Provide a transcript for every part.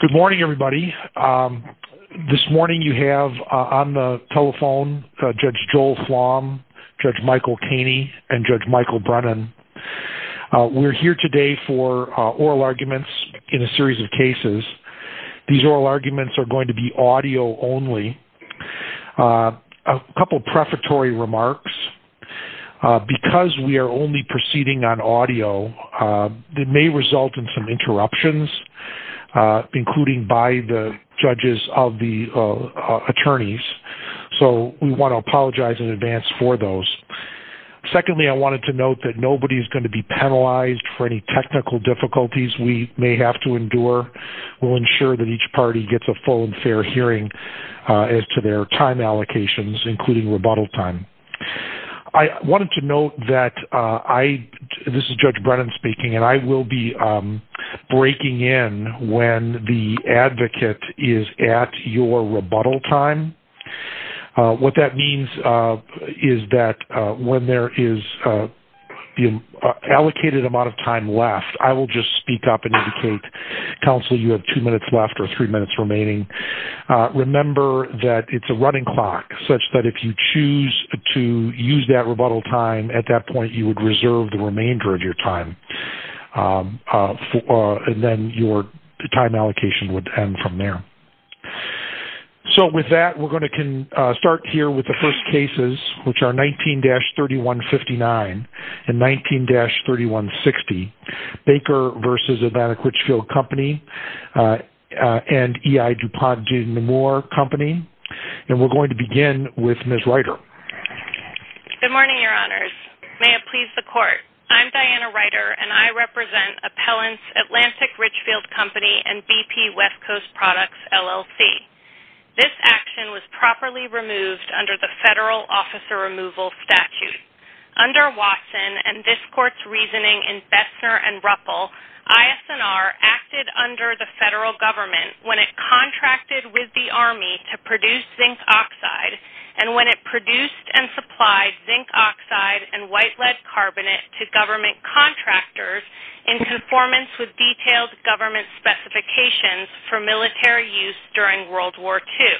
Good morning everybody. This morning you have on the telephone Judge Joel Flom, Judge Michael Caney, and Judge Michael Brennan. We're here today for oral arguments in a series of cases. These oral arguments are going to be audio only. A couple prefatory remarks. Because we are only proceeding on audio, it may result in some interruptions, including by the judges of the attorneys. So we want to apologize in advance for those. Secondly, I wanted to note that nobody is going to be penalized for any technical difficulties we may have to endure. We'll ensure that each party gets a full and fair hearing as to their time allocations, including rebuttal time. I wanted to note that I, this is Judge Brennan speaking, and I will be breaking in when the advocate is at your rebuttal time. What that means is that when there is the allocated amount of time left, I will just speak up and indicate, counsel, you have two minutes left or three minutes remaining. Remember that it's a running clock such that if you choose to use that rebuttal time, at that point you would reserve the remainder of your time. And then your time allocation would end from there. So with that, we're going to start here with the first cases, which are 19-3159 and 19-3160, Baker v. Atlantic Richfield Company and E.I. DuPont-Junemoore Company. And we're going to begin with Ms. Ryder. Good morning, Your Honors. May it please the Court, I'm Diana Ryder and I represent Appellants Atlantic Richfield Company and BP West Coast Products, LLC. This action was properly removed under the Federal Officer Removal Statute. Under Watson and this Court's reasoning in Bessner and Ruppel, ISNR acted under the Federal Government when it contracted with the Army to produce zinc oxide and when it produced and supplied zinc oxide and white lead carbonate to government contractors in conformance with detailed government specifications for military use during World War II.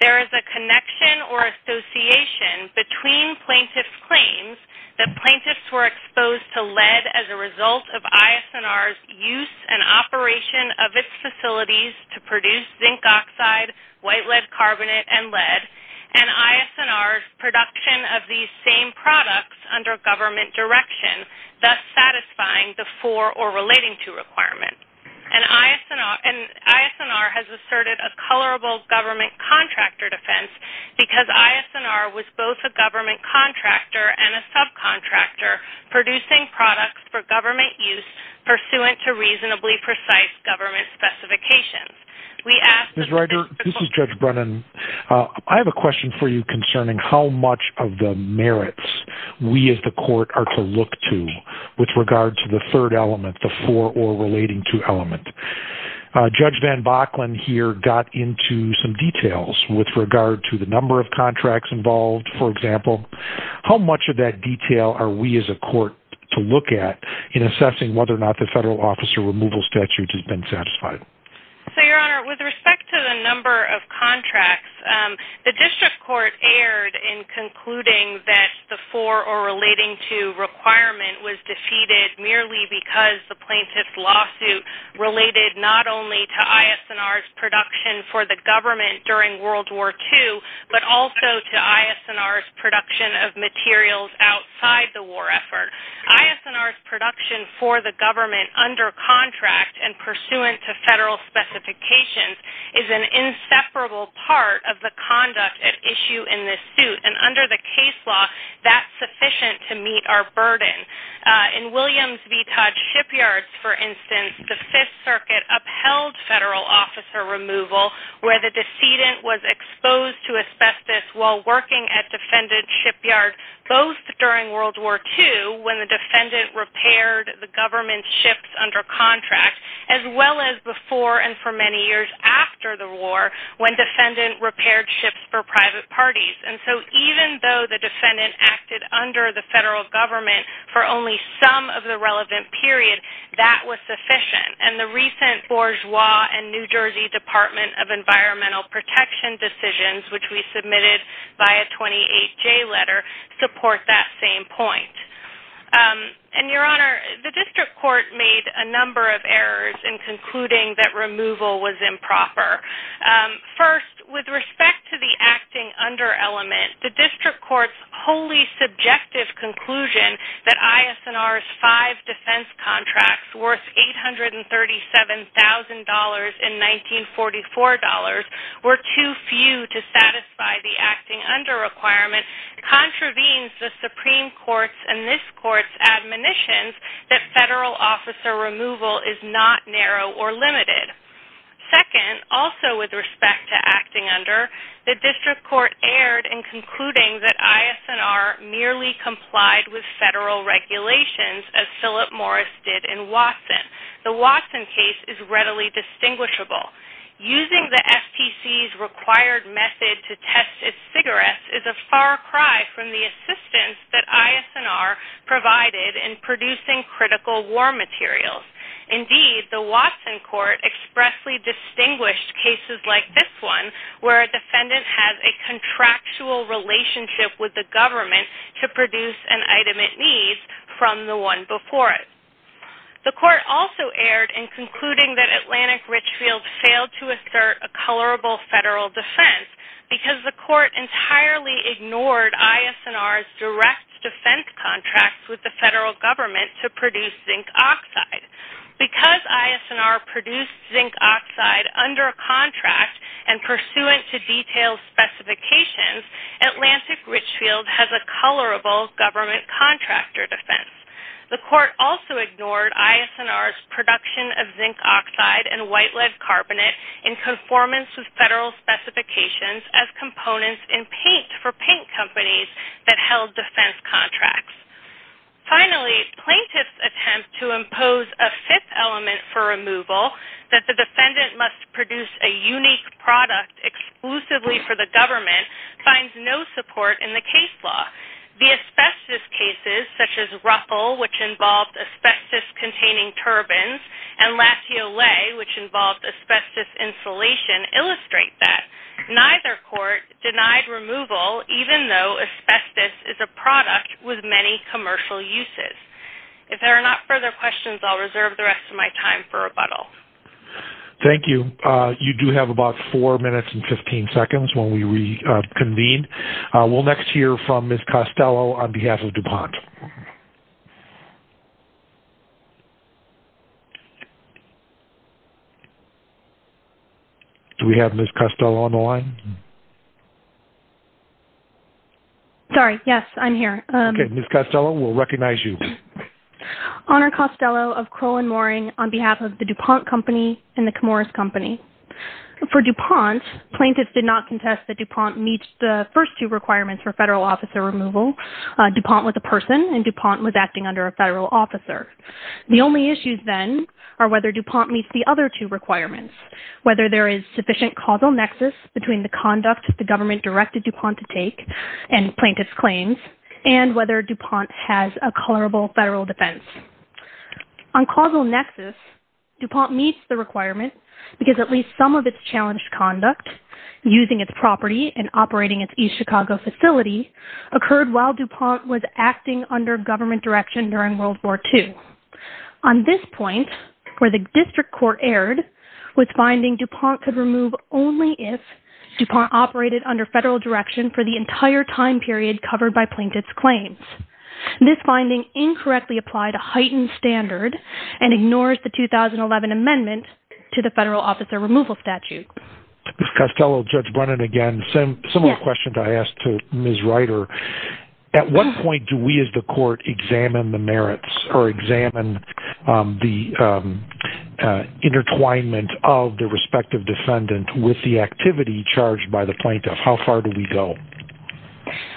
There is a connection or association between plaintiff's claims that plaintiffs were exposed to lead as a result of ISNR's use and operation of its facilities to produce zinc oxide, white lead carbonate and lead and ISNR's production of these same products under government direction, thus satisfying the for or relating to requirement. And ISNR has asserted a colorable government contractor defense because ISNR was both a government contractor and a subcontractor producing products for government use pursuant to reasonably precise government specifications. We ask that... Judge Brennan, I have a question for you concerning how much of the merits we as the Court are to look to with regard to the third element, the for or relating to element. Judge Van Bocklin here got into some details with regard to the number of contracts involved, for example. How much of that detail are we as a Court to look at in assessing whether or not the Federal Officer Removal Statute has been satisfied? So, Your Honor, with respect to the number of contracts, the District Court erred in concluding that the for or relating to requirement was defeated merely because the plaintiff's lawsuit related not only to ISNR's production for the government during World War II, but also to ISNR's production of materials outside the war effort. ISNR's production for the government under contract and pursuant to Federal specifications is an inseparable part of the conduct at issue in this suit. And under the case law, that's sufficient to meet our burden. In Williams v. Todd Shipyards, for instance, the Fifth Circuit upheld Federal Officer Removal where the decedent was exposed to asbestos while working at defendant's shipyard both during World War II when the defendant repaired the government's ships under contract as well as before and for many years after the war when defendant repaired ships for private parties. And so even though the defendant acted under the Federal government for only some of the relevant period, that was sufficient. And the recent Bourgeois and New Jersey Department of Environmental Protection decisions which we submitted by a 28-J letter support that same point. And your Honor, the District Court made a number of errors in concluding that removal was improper. First, with respect to the acting under element, the District Court's wholly subjective conclusion that ISNR's five defense contracts worth $837,000 in 1944 were too few to satisfy the acting under requirement contravenes the Supreme Court's and this Court's admonitions that Federal Officer Removal is not narrow or limited. Second, also with respect to acting under, the District Court erred in concluding that ISNR merely complied with Federal regulations as Philip Morris did in Watson. The Watson case is readily distinguishable. Using the FTC's required method to test its cigarettes is a far cry from the assistance that ISNR provided in producing critical war materials. Indeed, the Watson Court expressly distinguished cases like this one where a defendant has a contractual relationship with the government to produce an item it needs from the one before it. The Court also erred in concluding that Atlantic Richfield failed to assert a colorable Federal defense because the Court entirely ignored ISNR's direct defense contracts with the Federal government to produce zinc oxide. Because ISNR produced zinc oxide under a contract and pursuant to detailed specifications, Atlantic Richfield has a colorable government contractor defense. The Court also ignored ISNR's production of zinc oxide and white lead carbonate in conformance with Federal specifications as components in paint for paint companies that held defense contracts. Finally, plaintiff's attempt to impose a fifth element for removal, that the defendant must produce a unique product exclusively for the government, finds no support in the case law. The asbestos cases such as Ruffle, which involved asbestos-containing turbans, and Lassiolet, which involved asbestos insulation, illustrate that. Neither court denied removal even though asbestos is a product with many commercial uses. If there are not further questions, I'll reserve the rest of my time for rebuttal. Thank you. You do have about 4 minutes and 15 seconds when we reconvene. We'll next hear from Ms. Costello on behalf of DuPont. Do we have Ms. Costello on the line? Sorry, yes, I'm here. Okay, Ms. Costello, we'll recognize you. Honor Costello of Crow and Mooring on behalf of the DuPont Company and the Camorras Company. For DuPont, plaintiffs did not contest that DuPont meets the first two requirements for federal officer removal. DuPont was a person and DuPont was acting under a federal officer. The only issues then are whether DuPont meets the other two requirements, whether there is sufficient causal nexus between the conduct that the government directed DuPont to take and plaintiff's claims, and whether DuPont has a colorable federal defense. On causal nexus, DuPont meets the requirement because at least some of its challenged conduct using its property and operating its East Chicago facility occurred while DuPont was acting under government direction during World War II. On this point, where the district court erred, was finding DuPont could remove only if DuPont operated under federal direction for the entire time period covered by plaintiff's claims. This finding incorrectly applied a heightened standard and ignores the 2011 amendment to the federal officer removal statute. Ms. Costello, Judge Brennan again, similar questions I asked to Ms. Ryder. At what point do we as the court examine the merits or examine the intertwinement of the respective defendant with the activity charged by the plaintiff? How far do we go?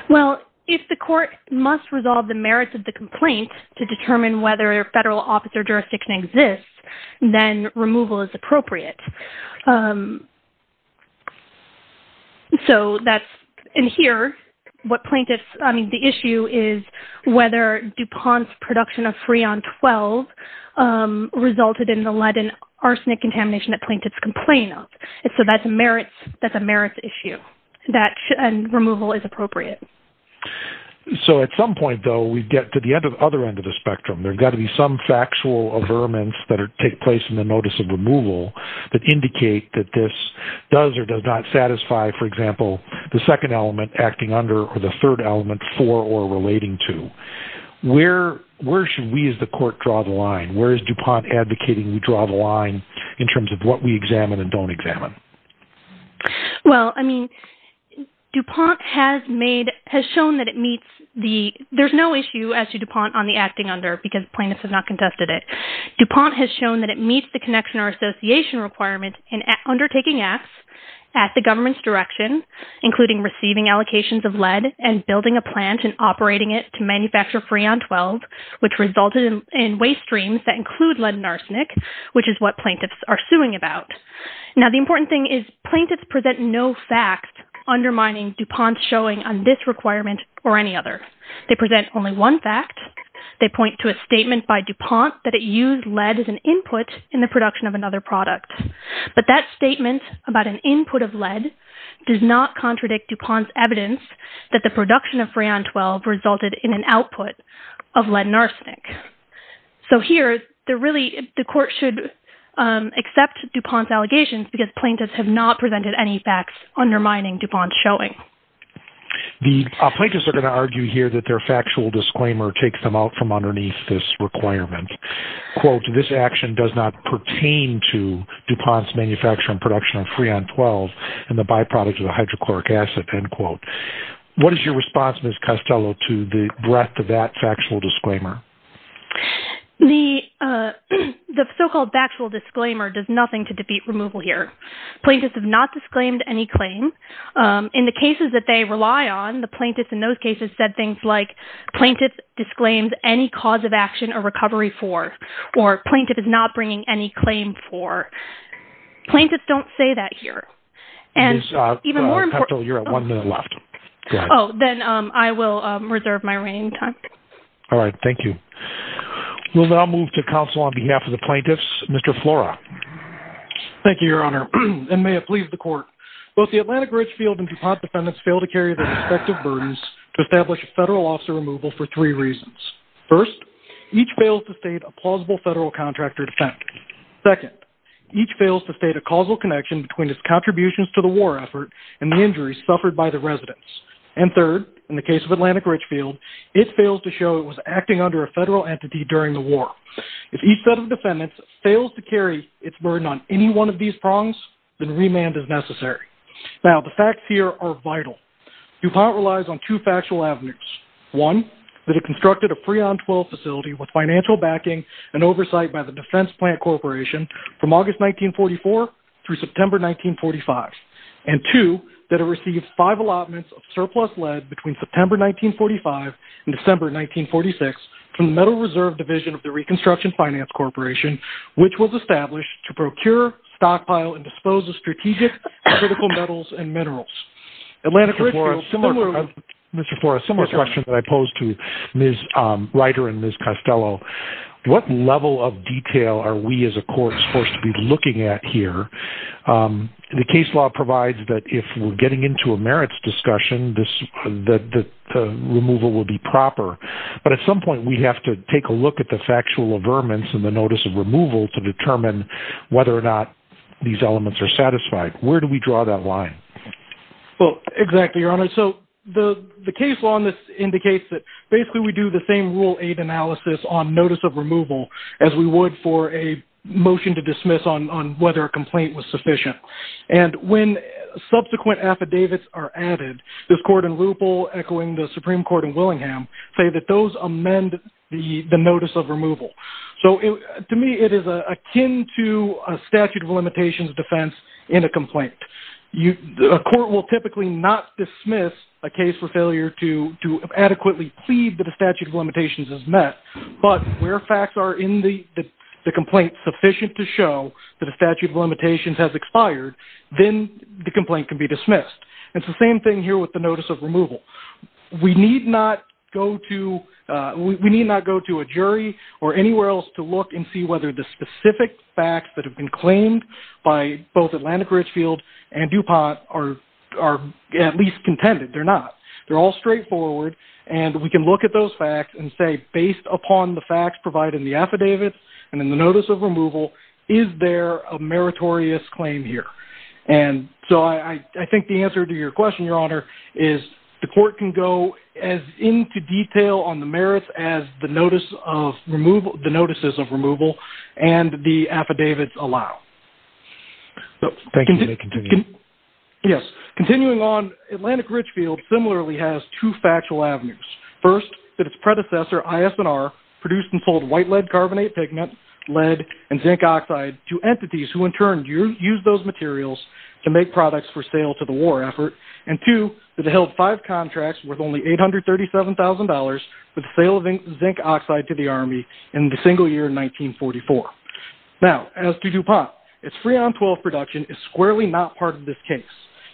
Well, if the court must resolve the merits of the complaint to determine whether a federal officer jurisdiction exists, then removal is appropriate. So that's in here, what plaintiffs, I mean, the issue is whether DuPont's production of Freon-12 resulted in the lead and arsenic contamination that plaintiffs complain of. So that's a merits issue, that removal is appropriate. So at some point, though, we get to the other end of the spectrum. There's got to be some factual averments that take place in the notice of removal that indicate that this does or does not satisfy, for example, the second element, acting under, or the third element, for or relating to. Where should we as the court draw the line? Where is DuPont advocating we draw the line in terms of what we examine and don't examine? Well, I mean, DuPont has made, has shown that it meets the, there's no issue as to DuPont on the acting under because plaintiffs have not contested it. DuPont has shown that it meets the connection or association requirement in undertaking acts at the government's direction, including receiving allocations of lead and building a plant and operating it to manufacture Freon-12, which resulted in waste streams that include lead and arsenic, which is what plaintiffs are suing about. Now the important thing is plaintiffs present no facts undermining DuPont's showing on this They point to a statement by DuPont that it used lead as an input in the production of another product, but that statement about an input of lead does not contradict DuPont's evidence that the production of Freon-12 resulted in an output of lead and arsenic. So here the really, the court should accept DuPont's allegations because plaintiffs have not presented any facts undermining DuPont's showing. The plaintiffs are going to argue here that their factual disclaimer takes them out from underneath this requirement. Quote, this action does not pertain to DuPont's manufacturing production of Freon-12 and the byproduct of the hydrochloric acid, end quote. What is your response, Ms. Costello, to the breadth of that factual disclaimer? The so-called factual disclaimer does nothing to defeat removal here. Plaintiffs have not In the cases that they rely on, the plaintiffs in those cases said things like, plaintiffs disclaimed any cause of action or recovery for, or plaintiff is not bringing any claim for. Plaintiffs don't say that here. Ms. Costello, you're at one minute left. Oh, then I will reserve my remaining time. All right, thank you. We'll now move to counsel on behalf of the plaintiffs. Mr. Flora. Thank you, Your Honor, and may it please the court. Both the Atlantic Ridgefield and DuPont defendants fail to carry their respective burdens to establish a federal officer removal for three reasons. First, each fails to state a plausible federal contractor defect. Second, each fails to state a causal connection between its contributions to the war effort and the injuries suffered by the residents. And third, in the case of Atlantic Ridgefield, it fails to show it was acting under a federal entity during the war. If each set of defendants fails to carry its burden on any one of these prongs, then remand is necessary. Now, the facts here are vital. DuPont relies on two factual avenues. One, that it constructed a free-on-twelve facility with financial backing and oversight by the Defense Plant Corporation from August 1944 through September 1945. And two, that it received five allotments of surplus lead between September 1945 and December 1946 from the Metal Reserve Division of the Reconstruction Finance Corporation, which was established to procure, stockpile, and dispose of strategic critical metals and minerals. Atlantic Ridgefield, Mr. Forrest, similar question that I posed to Ms. Ryder and Ms. Costello. What level of detail are we as a court supposed to be looking at here? The case law provides that if we're getting into a merits discussion, the removal will be proper. But at some point, we have to take a look at the factual averments and the notice of removal to determine whether or not these elements are satisfied. Where do we draw that line? Well, exactly, Your Honor. So the case law in this indicates that basically we do the same rule aid analysis on notice of removal as we would for a motion to dismiss on whether a complaint was sufficient. And when subsequent affidavits are added, this court in Leupol, echoing the Supreme Court in Willingham, say that those amend the notice of removal. So to me, it is akin to a statute of limitations defense in a complaint. A court will typically not dismiss a case for failure to adequately plead that a statute of limitations is met. But where facts are in the complaint sufficient to show that a statute of limitations has expired, then the complaint can be dismissed. It's the same thing here with the notice of removal. We need not go to a jury or anywhere else to look and see whether the specific facts that have been claimed by both Atlantic Richfield and DuPont are at least contended. They're not. They're all straightforward. And we can look at those facts and say, based upon the facts provided in the affidavit and in the notice of removal, is there a meritorious claim here? And so I think the answer to your question, Your Honor, is the court can go as into detail on the merits as the notices of removal and the affidavits allow. Yes. Continuing on, Atlantic Richfield similarly has two factual avenues. First, that its predecessor, IS&R, produced and sold white lead carbonate pigment, lead, and zinc oxide to entities who in turn use those materials to make products for sale to the held five contracts worth only $837,000 for the sale of zinc oxide to the Army in the single year in 1944. Now, as to DuPont, its Freon-12 production is squarely not part of this case.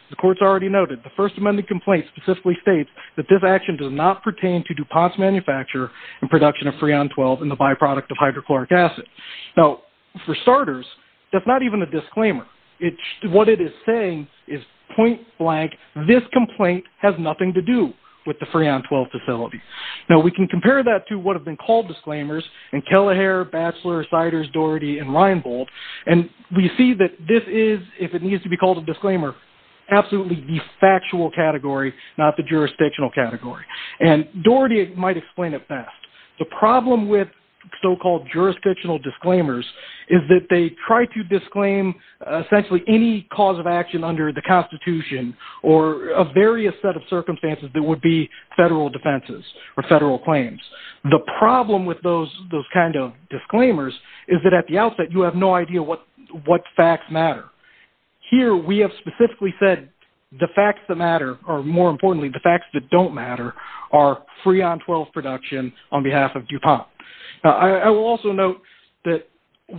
The court's already noted the First Amendment complaint specifically states that this action does not pertain to DuPont's manufacture and production of Freon-12 and the byproduct of hydrochloric acid. Now, for starters, that's not even a disclaimer. What it is saying is point has nothing to do with the Freon-12 facility. Now, we can compare that to what have been called disclaimers in Kelleher, Batchelor, Siders, Doherty, and Reinbold. And we see that this is, if it needs to be called a disclaimer, absolutely the factual category, not the jurisdictional category. And Doherty might explain it fast. The problem with so-called jurisdictional disclaimers is that they try to disclaim essentially any cause of action under the Constitution or a various set of circumstances that would be federal defenses or federal claims. The problem with those kind of disclaimers is that at the outset, you have no idea what facts matter. Here, we have specifically said the facts that matter or more importantly, the facts that don't matter are Freon-12 production on behalf of DuPont. I will also note that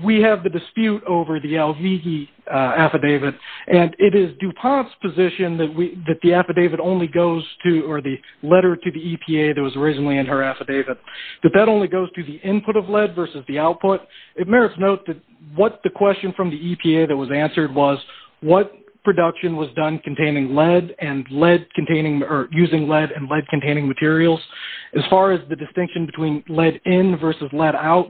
we have the dispute over the LVG affidavit. And it is DuPont's position that the affidavit only goes to, or the letter to the EPA that was originally in her affidavit, that that only goes to the input of lead versus the output. It merits note that what the question from the EPA that was answered was what production was done containing lead and lead containing or using lead and lead containing materials. As far as the distinction between lead in versus lead out,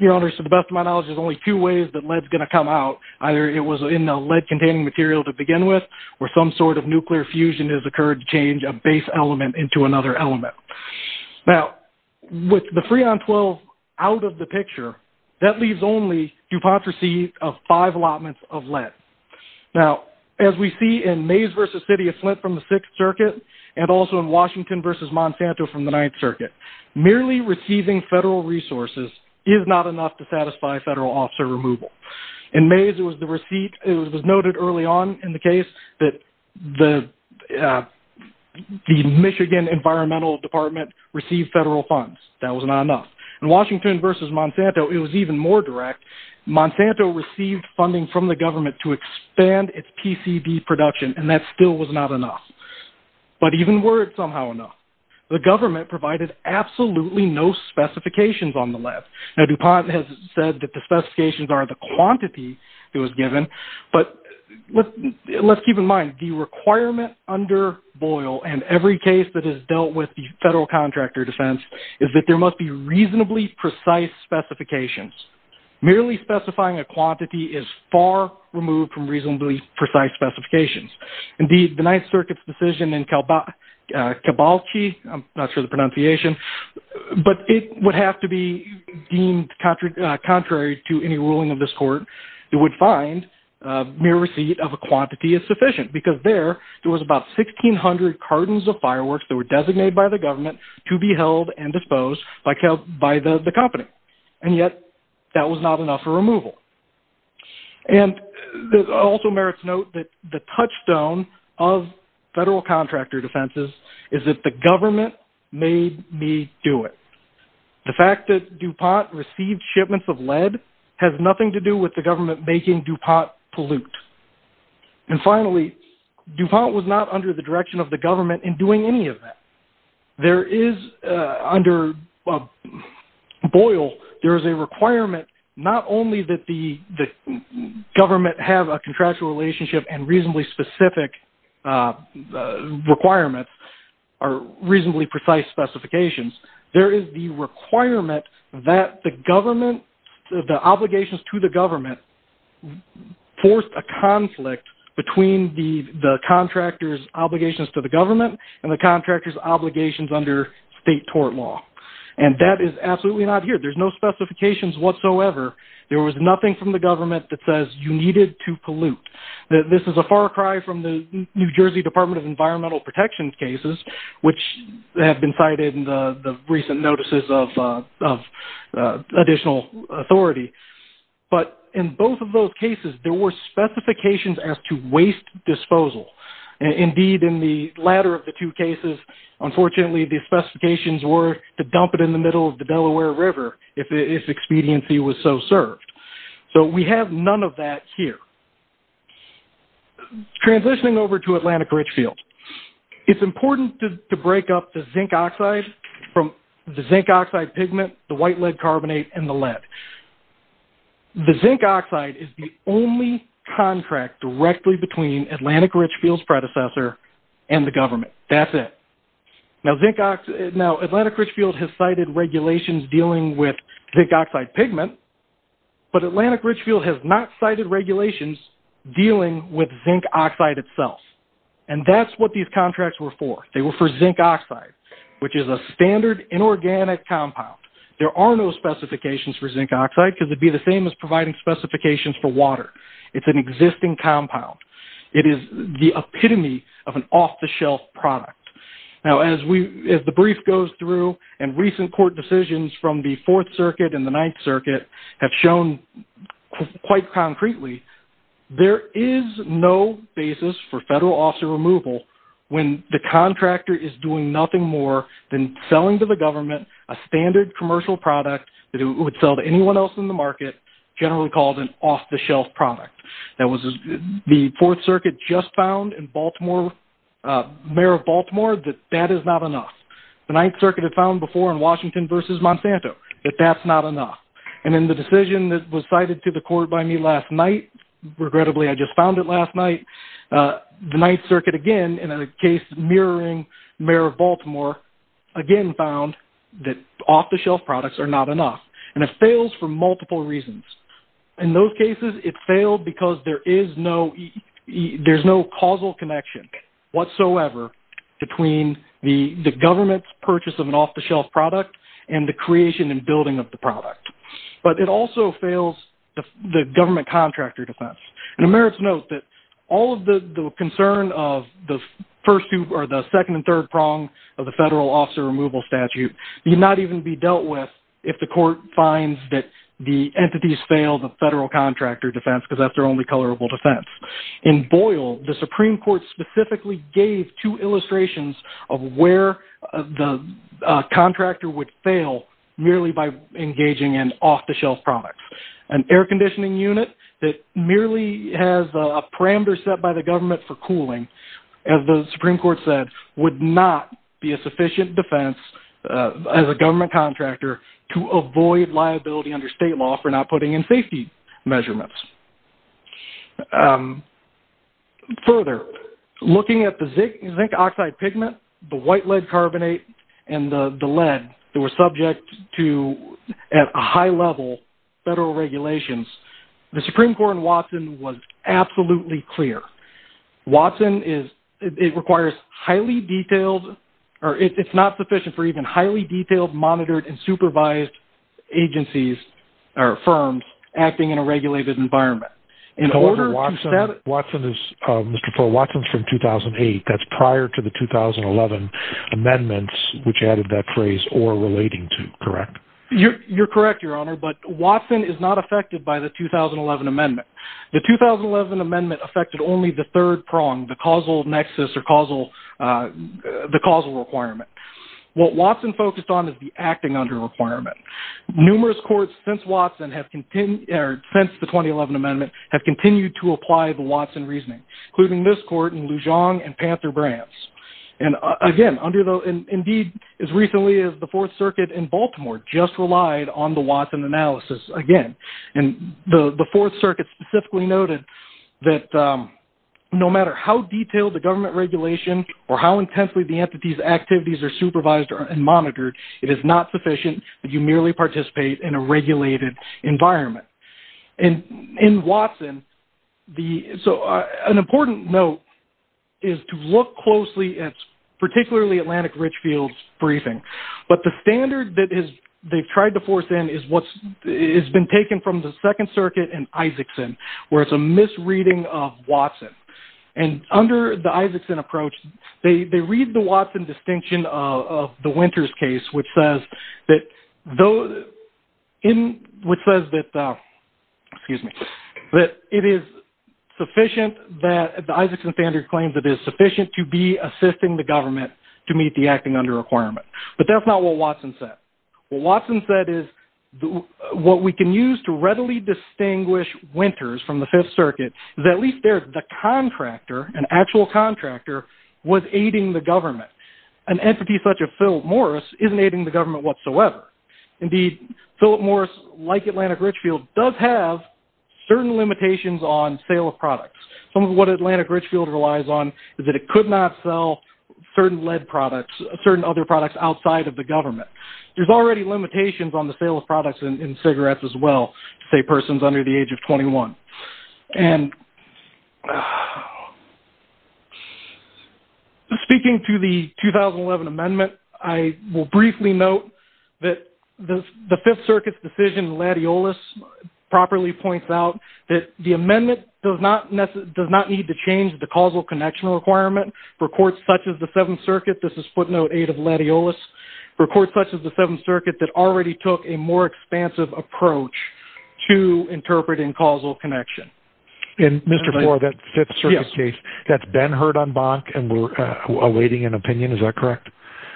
your honors, to the best of my knowledge, there's only two ways that lead is going to come out. Either it was in a lead containing material to begin with, or some sort of nuclear fusion has occurred to change a base element into another element. Now, with the Freon-12 out of the picture, that leaves only DuPont's receipt of five allotments of lead. Now, as we see in Mays versus City of Flint from the Sixth Circuit, and also in Washington versus Monsanto from the Ninth Circuit, that does not satisfy federal officer removal. In Mays, it was noted early on in the case that the Michigan Environmental Department received federal funds. That was not enough. In Washington versus Monsanto, it was even more direct. Monsanto received funding from the government to expand its PCB production, and that still was not enough. But even were it somehow enough, the government provided absolutely no specifications on the lead. Now, DuPont has said that the specifications are the quantity it was given, but let's keep in mind the requirement under Boyle and every case that is dealt with the federal contractor defense is that there must be reasonably precise specifications. Merely specifying a quantity is far removed from reasonably precise specifications. Indeed, the Ninth Circuit's decision in Kabalchi, I'm not sure of the pronunciation, but it would have to be deemed contrary to any ruling of this court. It would find mere receipt of a quantity is sufficient because there, there was about 1,600 cartons of fireworks that were designated by the government to be held and disposed by the company. And yet, that was not enough for removal. And it also merits note that the touchstone of federal contractor defenses is that the government made me do it. The fact that DuPont received shipments of lead has nothing to do with the government making DuPont pollute. And finally, DuPont was not under the direction of the government in doing any of that. There is, under Boyle, there is a requirement not only that the government have a contractual relationship and reasonably specific requirements or reasonably precise specifications. There is the requirement that the government, the obligations to the government, forced a conflict between the contractor's obligations to the government and the contractor's obligations under state tort law. And that is absolutely not here. There's no specifications whatsoever. There was nothing from the government that says you needed to pollute. This is a far cry from the New Jersey Department of Environmental Protection cases, which have been cited in the recent notices of additional authority. But in both of those cases, there were specifications as to waste disposal. Indeed, in the latter of the two cases, unfortunately, the specifications were to dump it in the middle of the Delaware River if expediency was so served. So, we have none of that here. Transitioning over to Atlantic Richfield, it's important to break up the zinc oxide from the lead carbonate and the lead. The zinc oxide is the only contract directly between Atlantic Richfield's predecessor and the government. That's it. Now, Atlantic Richfield has cited regulations dealing with zinc oxide pigment, but Atlantic Richfield has not cited regulations dealing with zinc oxide itself. And that's what these contracts were for. They were for zinc oxide, which is a standard inorganic compound. There are no specifications for zinc oxide because it'd be the same as providing specifications for water. It's an existing compound. It is the epitome of an off-the-shelf product. Now, as the brief goes through and recent court decisions from the Fourth Circuit and the Ninth Circuit have shown quite concretely, there is no basis for federal officer removal when the contractor is doing nothing more than selling to the government a standard commercial product that it would sell to anyone else in the market, generally called an off-the-shelf product. The Fourth Circuit just found in Baltimore, Mayor of Baltimore, that that is not enough. The Ninth Circuit had found before in Washington versus Monsanto that that's not enough. And in the decision that was cited to the court by me last night, regrettably, I just found it last night. The Ninth Circuit again, in a case mirroring Mayor of Baltimore, again found that off-the-shelf products are not enough. And it fails for multiple reasons. In those cases, it failed because there is no causal connection whatsoever between the government's purchase of an off-the-shelf product and the creation and building of the product. But it also fails the all of the concern of the first two or the second and third prong of the federal officer removal statute need not even be dealt with if the court finds that the entities fail the federal contractor defense because that's their only colorable defense. In Boyle, the Supreme Court specifically gave two illustrations of where the contractor would fail merely by engaging in by the government for cooling, as the Supreme Court said, would not be a sufficient defense as a government contractor to avoid liability under state law for not putting in safety measurements. Further, looking at the zinc oxide pigment, the white lead carbonate, and the lead that were subject to at a high level federal regulations, the Supreme Court in Watson is, it requires highly detailed, or it's not sufficient for even highly detailed, monitored, and supervised agencies or firms acting in a regulated environment. Watson is from 2008. That's prior to the 2011 amendments, which added that phrase or relating to, correct? You're correct, Your Honor, but Watson is not affected by the 2011 amendment. The 2011 amendment affected only the third prong, the causal nexus or the causal requirement. What Watson focused on is the acting under requirement. Numerous courts since the 2011 amendment have continued to apply the Watson reasoning, including this court in Lujan and Panther-Branch. Indeed, as recently as the Fourth Circuit in Baltimore just relied on the Watson reasoning, the Fourth Circuit specifically noted that no matter how detailed the government regulation or how intensely the entity's activities are supervised and monitored, it is not sufficient that you merely participate in a regulated environment. In Watson, an important note is to look closely at particularly Atlantic Richfield's briefing, but the standard that they've tried to force in has been taken from the Second Circuit and Isakson, where it's a misreading of Watson. Under the Isakson approach, they read the Watson distinction of the Winters case, which says that it is sufficient that the Isakson standard claims it is sufficient to be assisting the government to meet the acting under requirement. That's not what Watson said. What Watson said is, what we can use to readily distinguish Winters from the Fifth Circuit is at least there's the contractor, an actual contractor, was aiding the government. An entity such as Philip Morris isn't aiding the government whatsoever. Indeed, Philip Morris, like Atlantic Richfield, does have certain limitations on sale of products. Some of what Atlantic Richfield relies on is that it could not sell certain lead products, certain other products outside of the government. There's already limitations on the sale of products in cigarettes as well, say persons under the age of 21. Speaking to the 2011 amendment, I will briefly note that the Fifth Circuit's decision, Latiolus properly points out that the amendment does not need to change the causal connection requirement for courts such as the Seventh Circuit. This is footnote eight of Latiolus, for courts such as the Seventh Circuit that already took a more expansive approach to interpreting causal connection. And Mr. Moore, that Fifth Circuit case, that's been heard on Bonk and we're awaiting an opinion. Is that correct?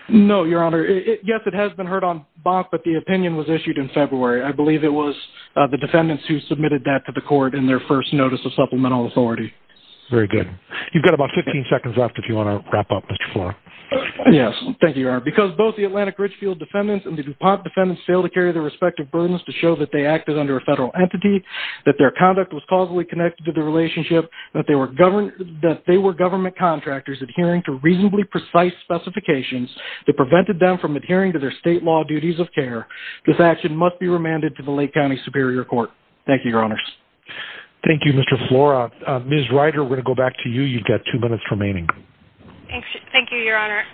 No, Your Honor. Yes, it has been heard on Bonk, but the opinion was issued in February. I believe it was the defendants who submitted that to the court in their first notice of supplemental authority. Very good. You've got about 15 seconds left if you want to wrap up, Mr. Flora. Yes. Thank you, Your Honor. Because both the Atlantic Richfield defendants and the DuPont defendants failed to carry their respective burdens to show that they acted under a federal entity, that their conduct was causally connected to the relationship, that they were government contractors adhering to reasonably precise specifications that prevented them from adhering to their state law duties of care. This action must be remanded to the Lake County Superior Court. Thank you, Your Honors. Thank you, Mr. Flora. Ms. Ryder, we're going to go back to you. You've got two minutes remaining. Thank you, Your Honor.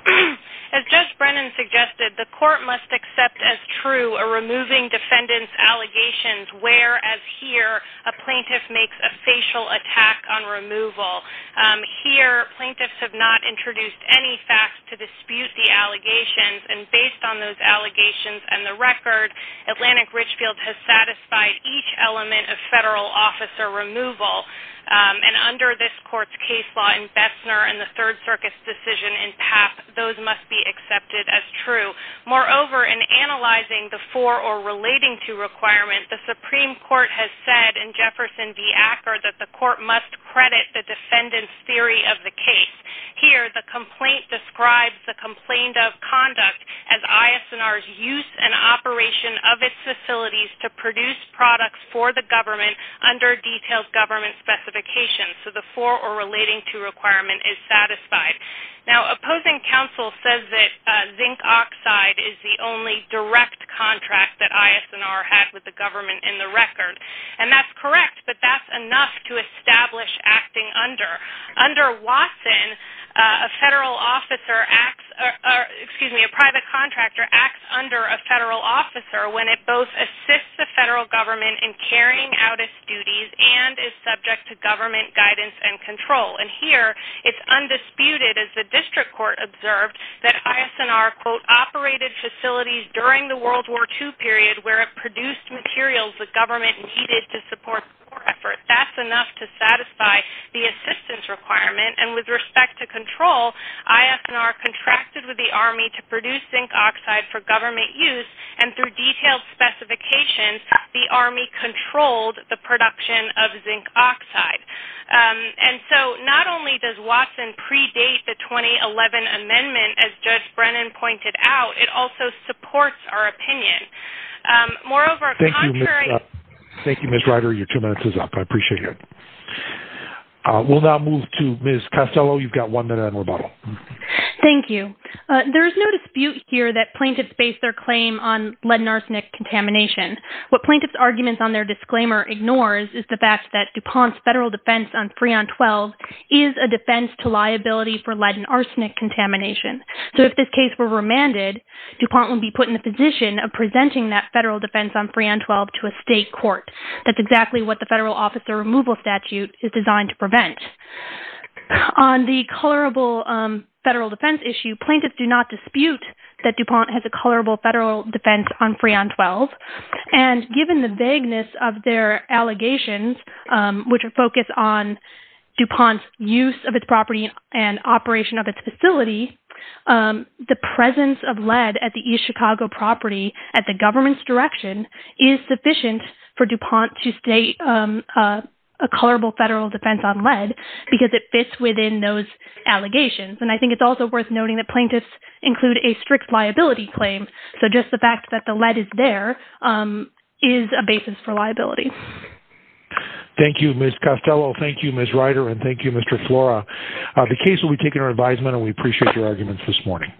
As Judge Brennan suggested, the court must accept as true a removing defendant's allegations where, as here, a plaintiff makes a facial attack on removal. Here, plaintiffs have not introduced any facts to dispute the allegations. And based on those allegations and the record, Atlantic Richfield has satisfied each element of federal officer removal. And under this court's case law in Bessner and the Third Circuit's decision in Papp, those must be accepted as true. Moreover, in analyzing the for or relating to requirement, the Supreme Court has said in Jefferson v. Acker that the court must credit the defendant's theory of the case. Here, the court has said that the defendant's theory of the case is correct, but the court has not provided a definition of its facilities to produce products for the government under detailed government specifications. So the for or relating to requirement is satisfied. Now, opposing counsel says that zinc oxide is the only direct contract that ISNR has with the government in the record. And that's correct, but that's enough to establish acting under. Under Watson, a federal officer acts, excuse me, a private contractor acts under a federal officer when it both assists the federal government in carrying out its duties and is subject to government guidance and control. And here, it's undisputed, as the district court observed, that ISNR, quote, operated facilities during the World War II period where it produced materials the government needed to support war effort. That's enough to satisfy the assistance requirement. And with respect to control, ISNR contracted with the army to produce zinc oxide for government use and through detailed specifications, the army controlled the production of zinc oxide. And so not only does Watson predate the 2011 amendment, as Judge Brennan pointed out, it also supports our opinion. Moreover, contrary... Thank you, Ms. Ryder. Your two minutes is up. I appreciate it. We'll now move to Ms. Costello. You've got one minute on rebuttal. Thank you. There is no dispute here that plaintiffs base their claim on lead and arsenic contamination. What plaintiffs' arguments on their disclaimer ignores is the fact that DuPont's federal defense on Freon 12 is a defense to liability for lead and arsenic contamination. So if this case were remanded, DuPont would be put in the position of presenting that federal defense on Freon 12 to a state court. That's exactly what the federal officer removal statute is designed to prevent. On the colorable federal defense issue, plaintiffs do not dispute that DuPont has a colorable federal defense on Freon 12. And given the vagueness of their allegations, which are focused on DuPont's use of its property and operation of its facility, the presence of lead at the East Chicago property, at the government's direction, is sufficient for DuPont to state a colorable federal defense on lead because it fits within those allegations. And I think it's also worth noting that plaintiffs include a strict liability claim. So just the fact that the lead is there is a basis for liability. Thank you, Ms. Costello. Thank you, Ms. Ryder. And thank you, Mr. Flora. The case will be taken to our advisement, and we appreciate your arguments this morning.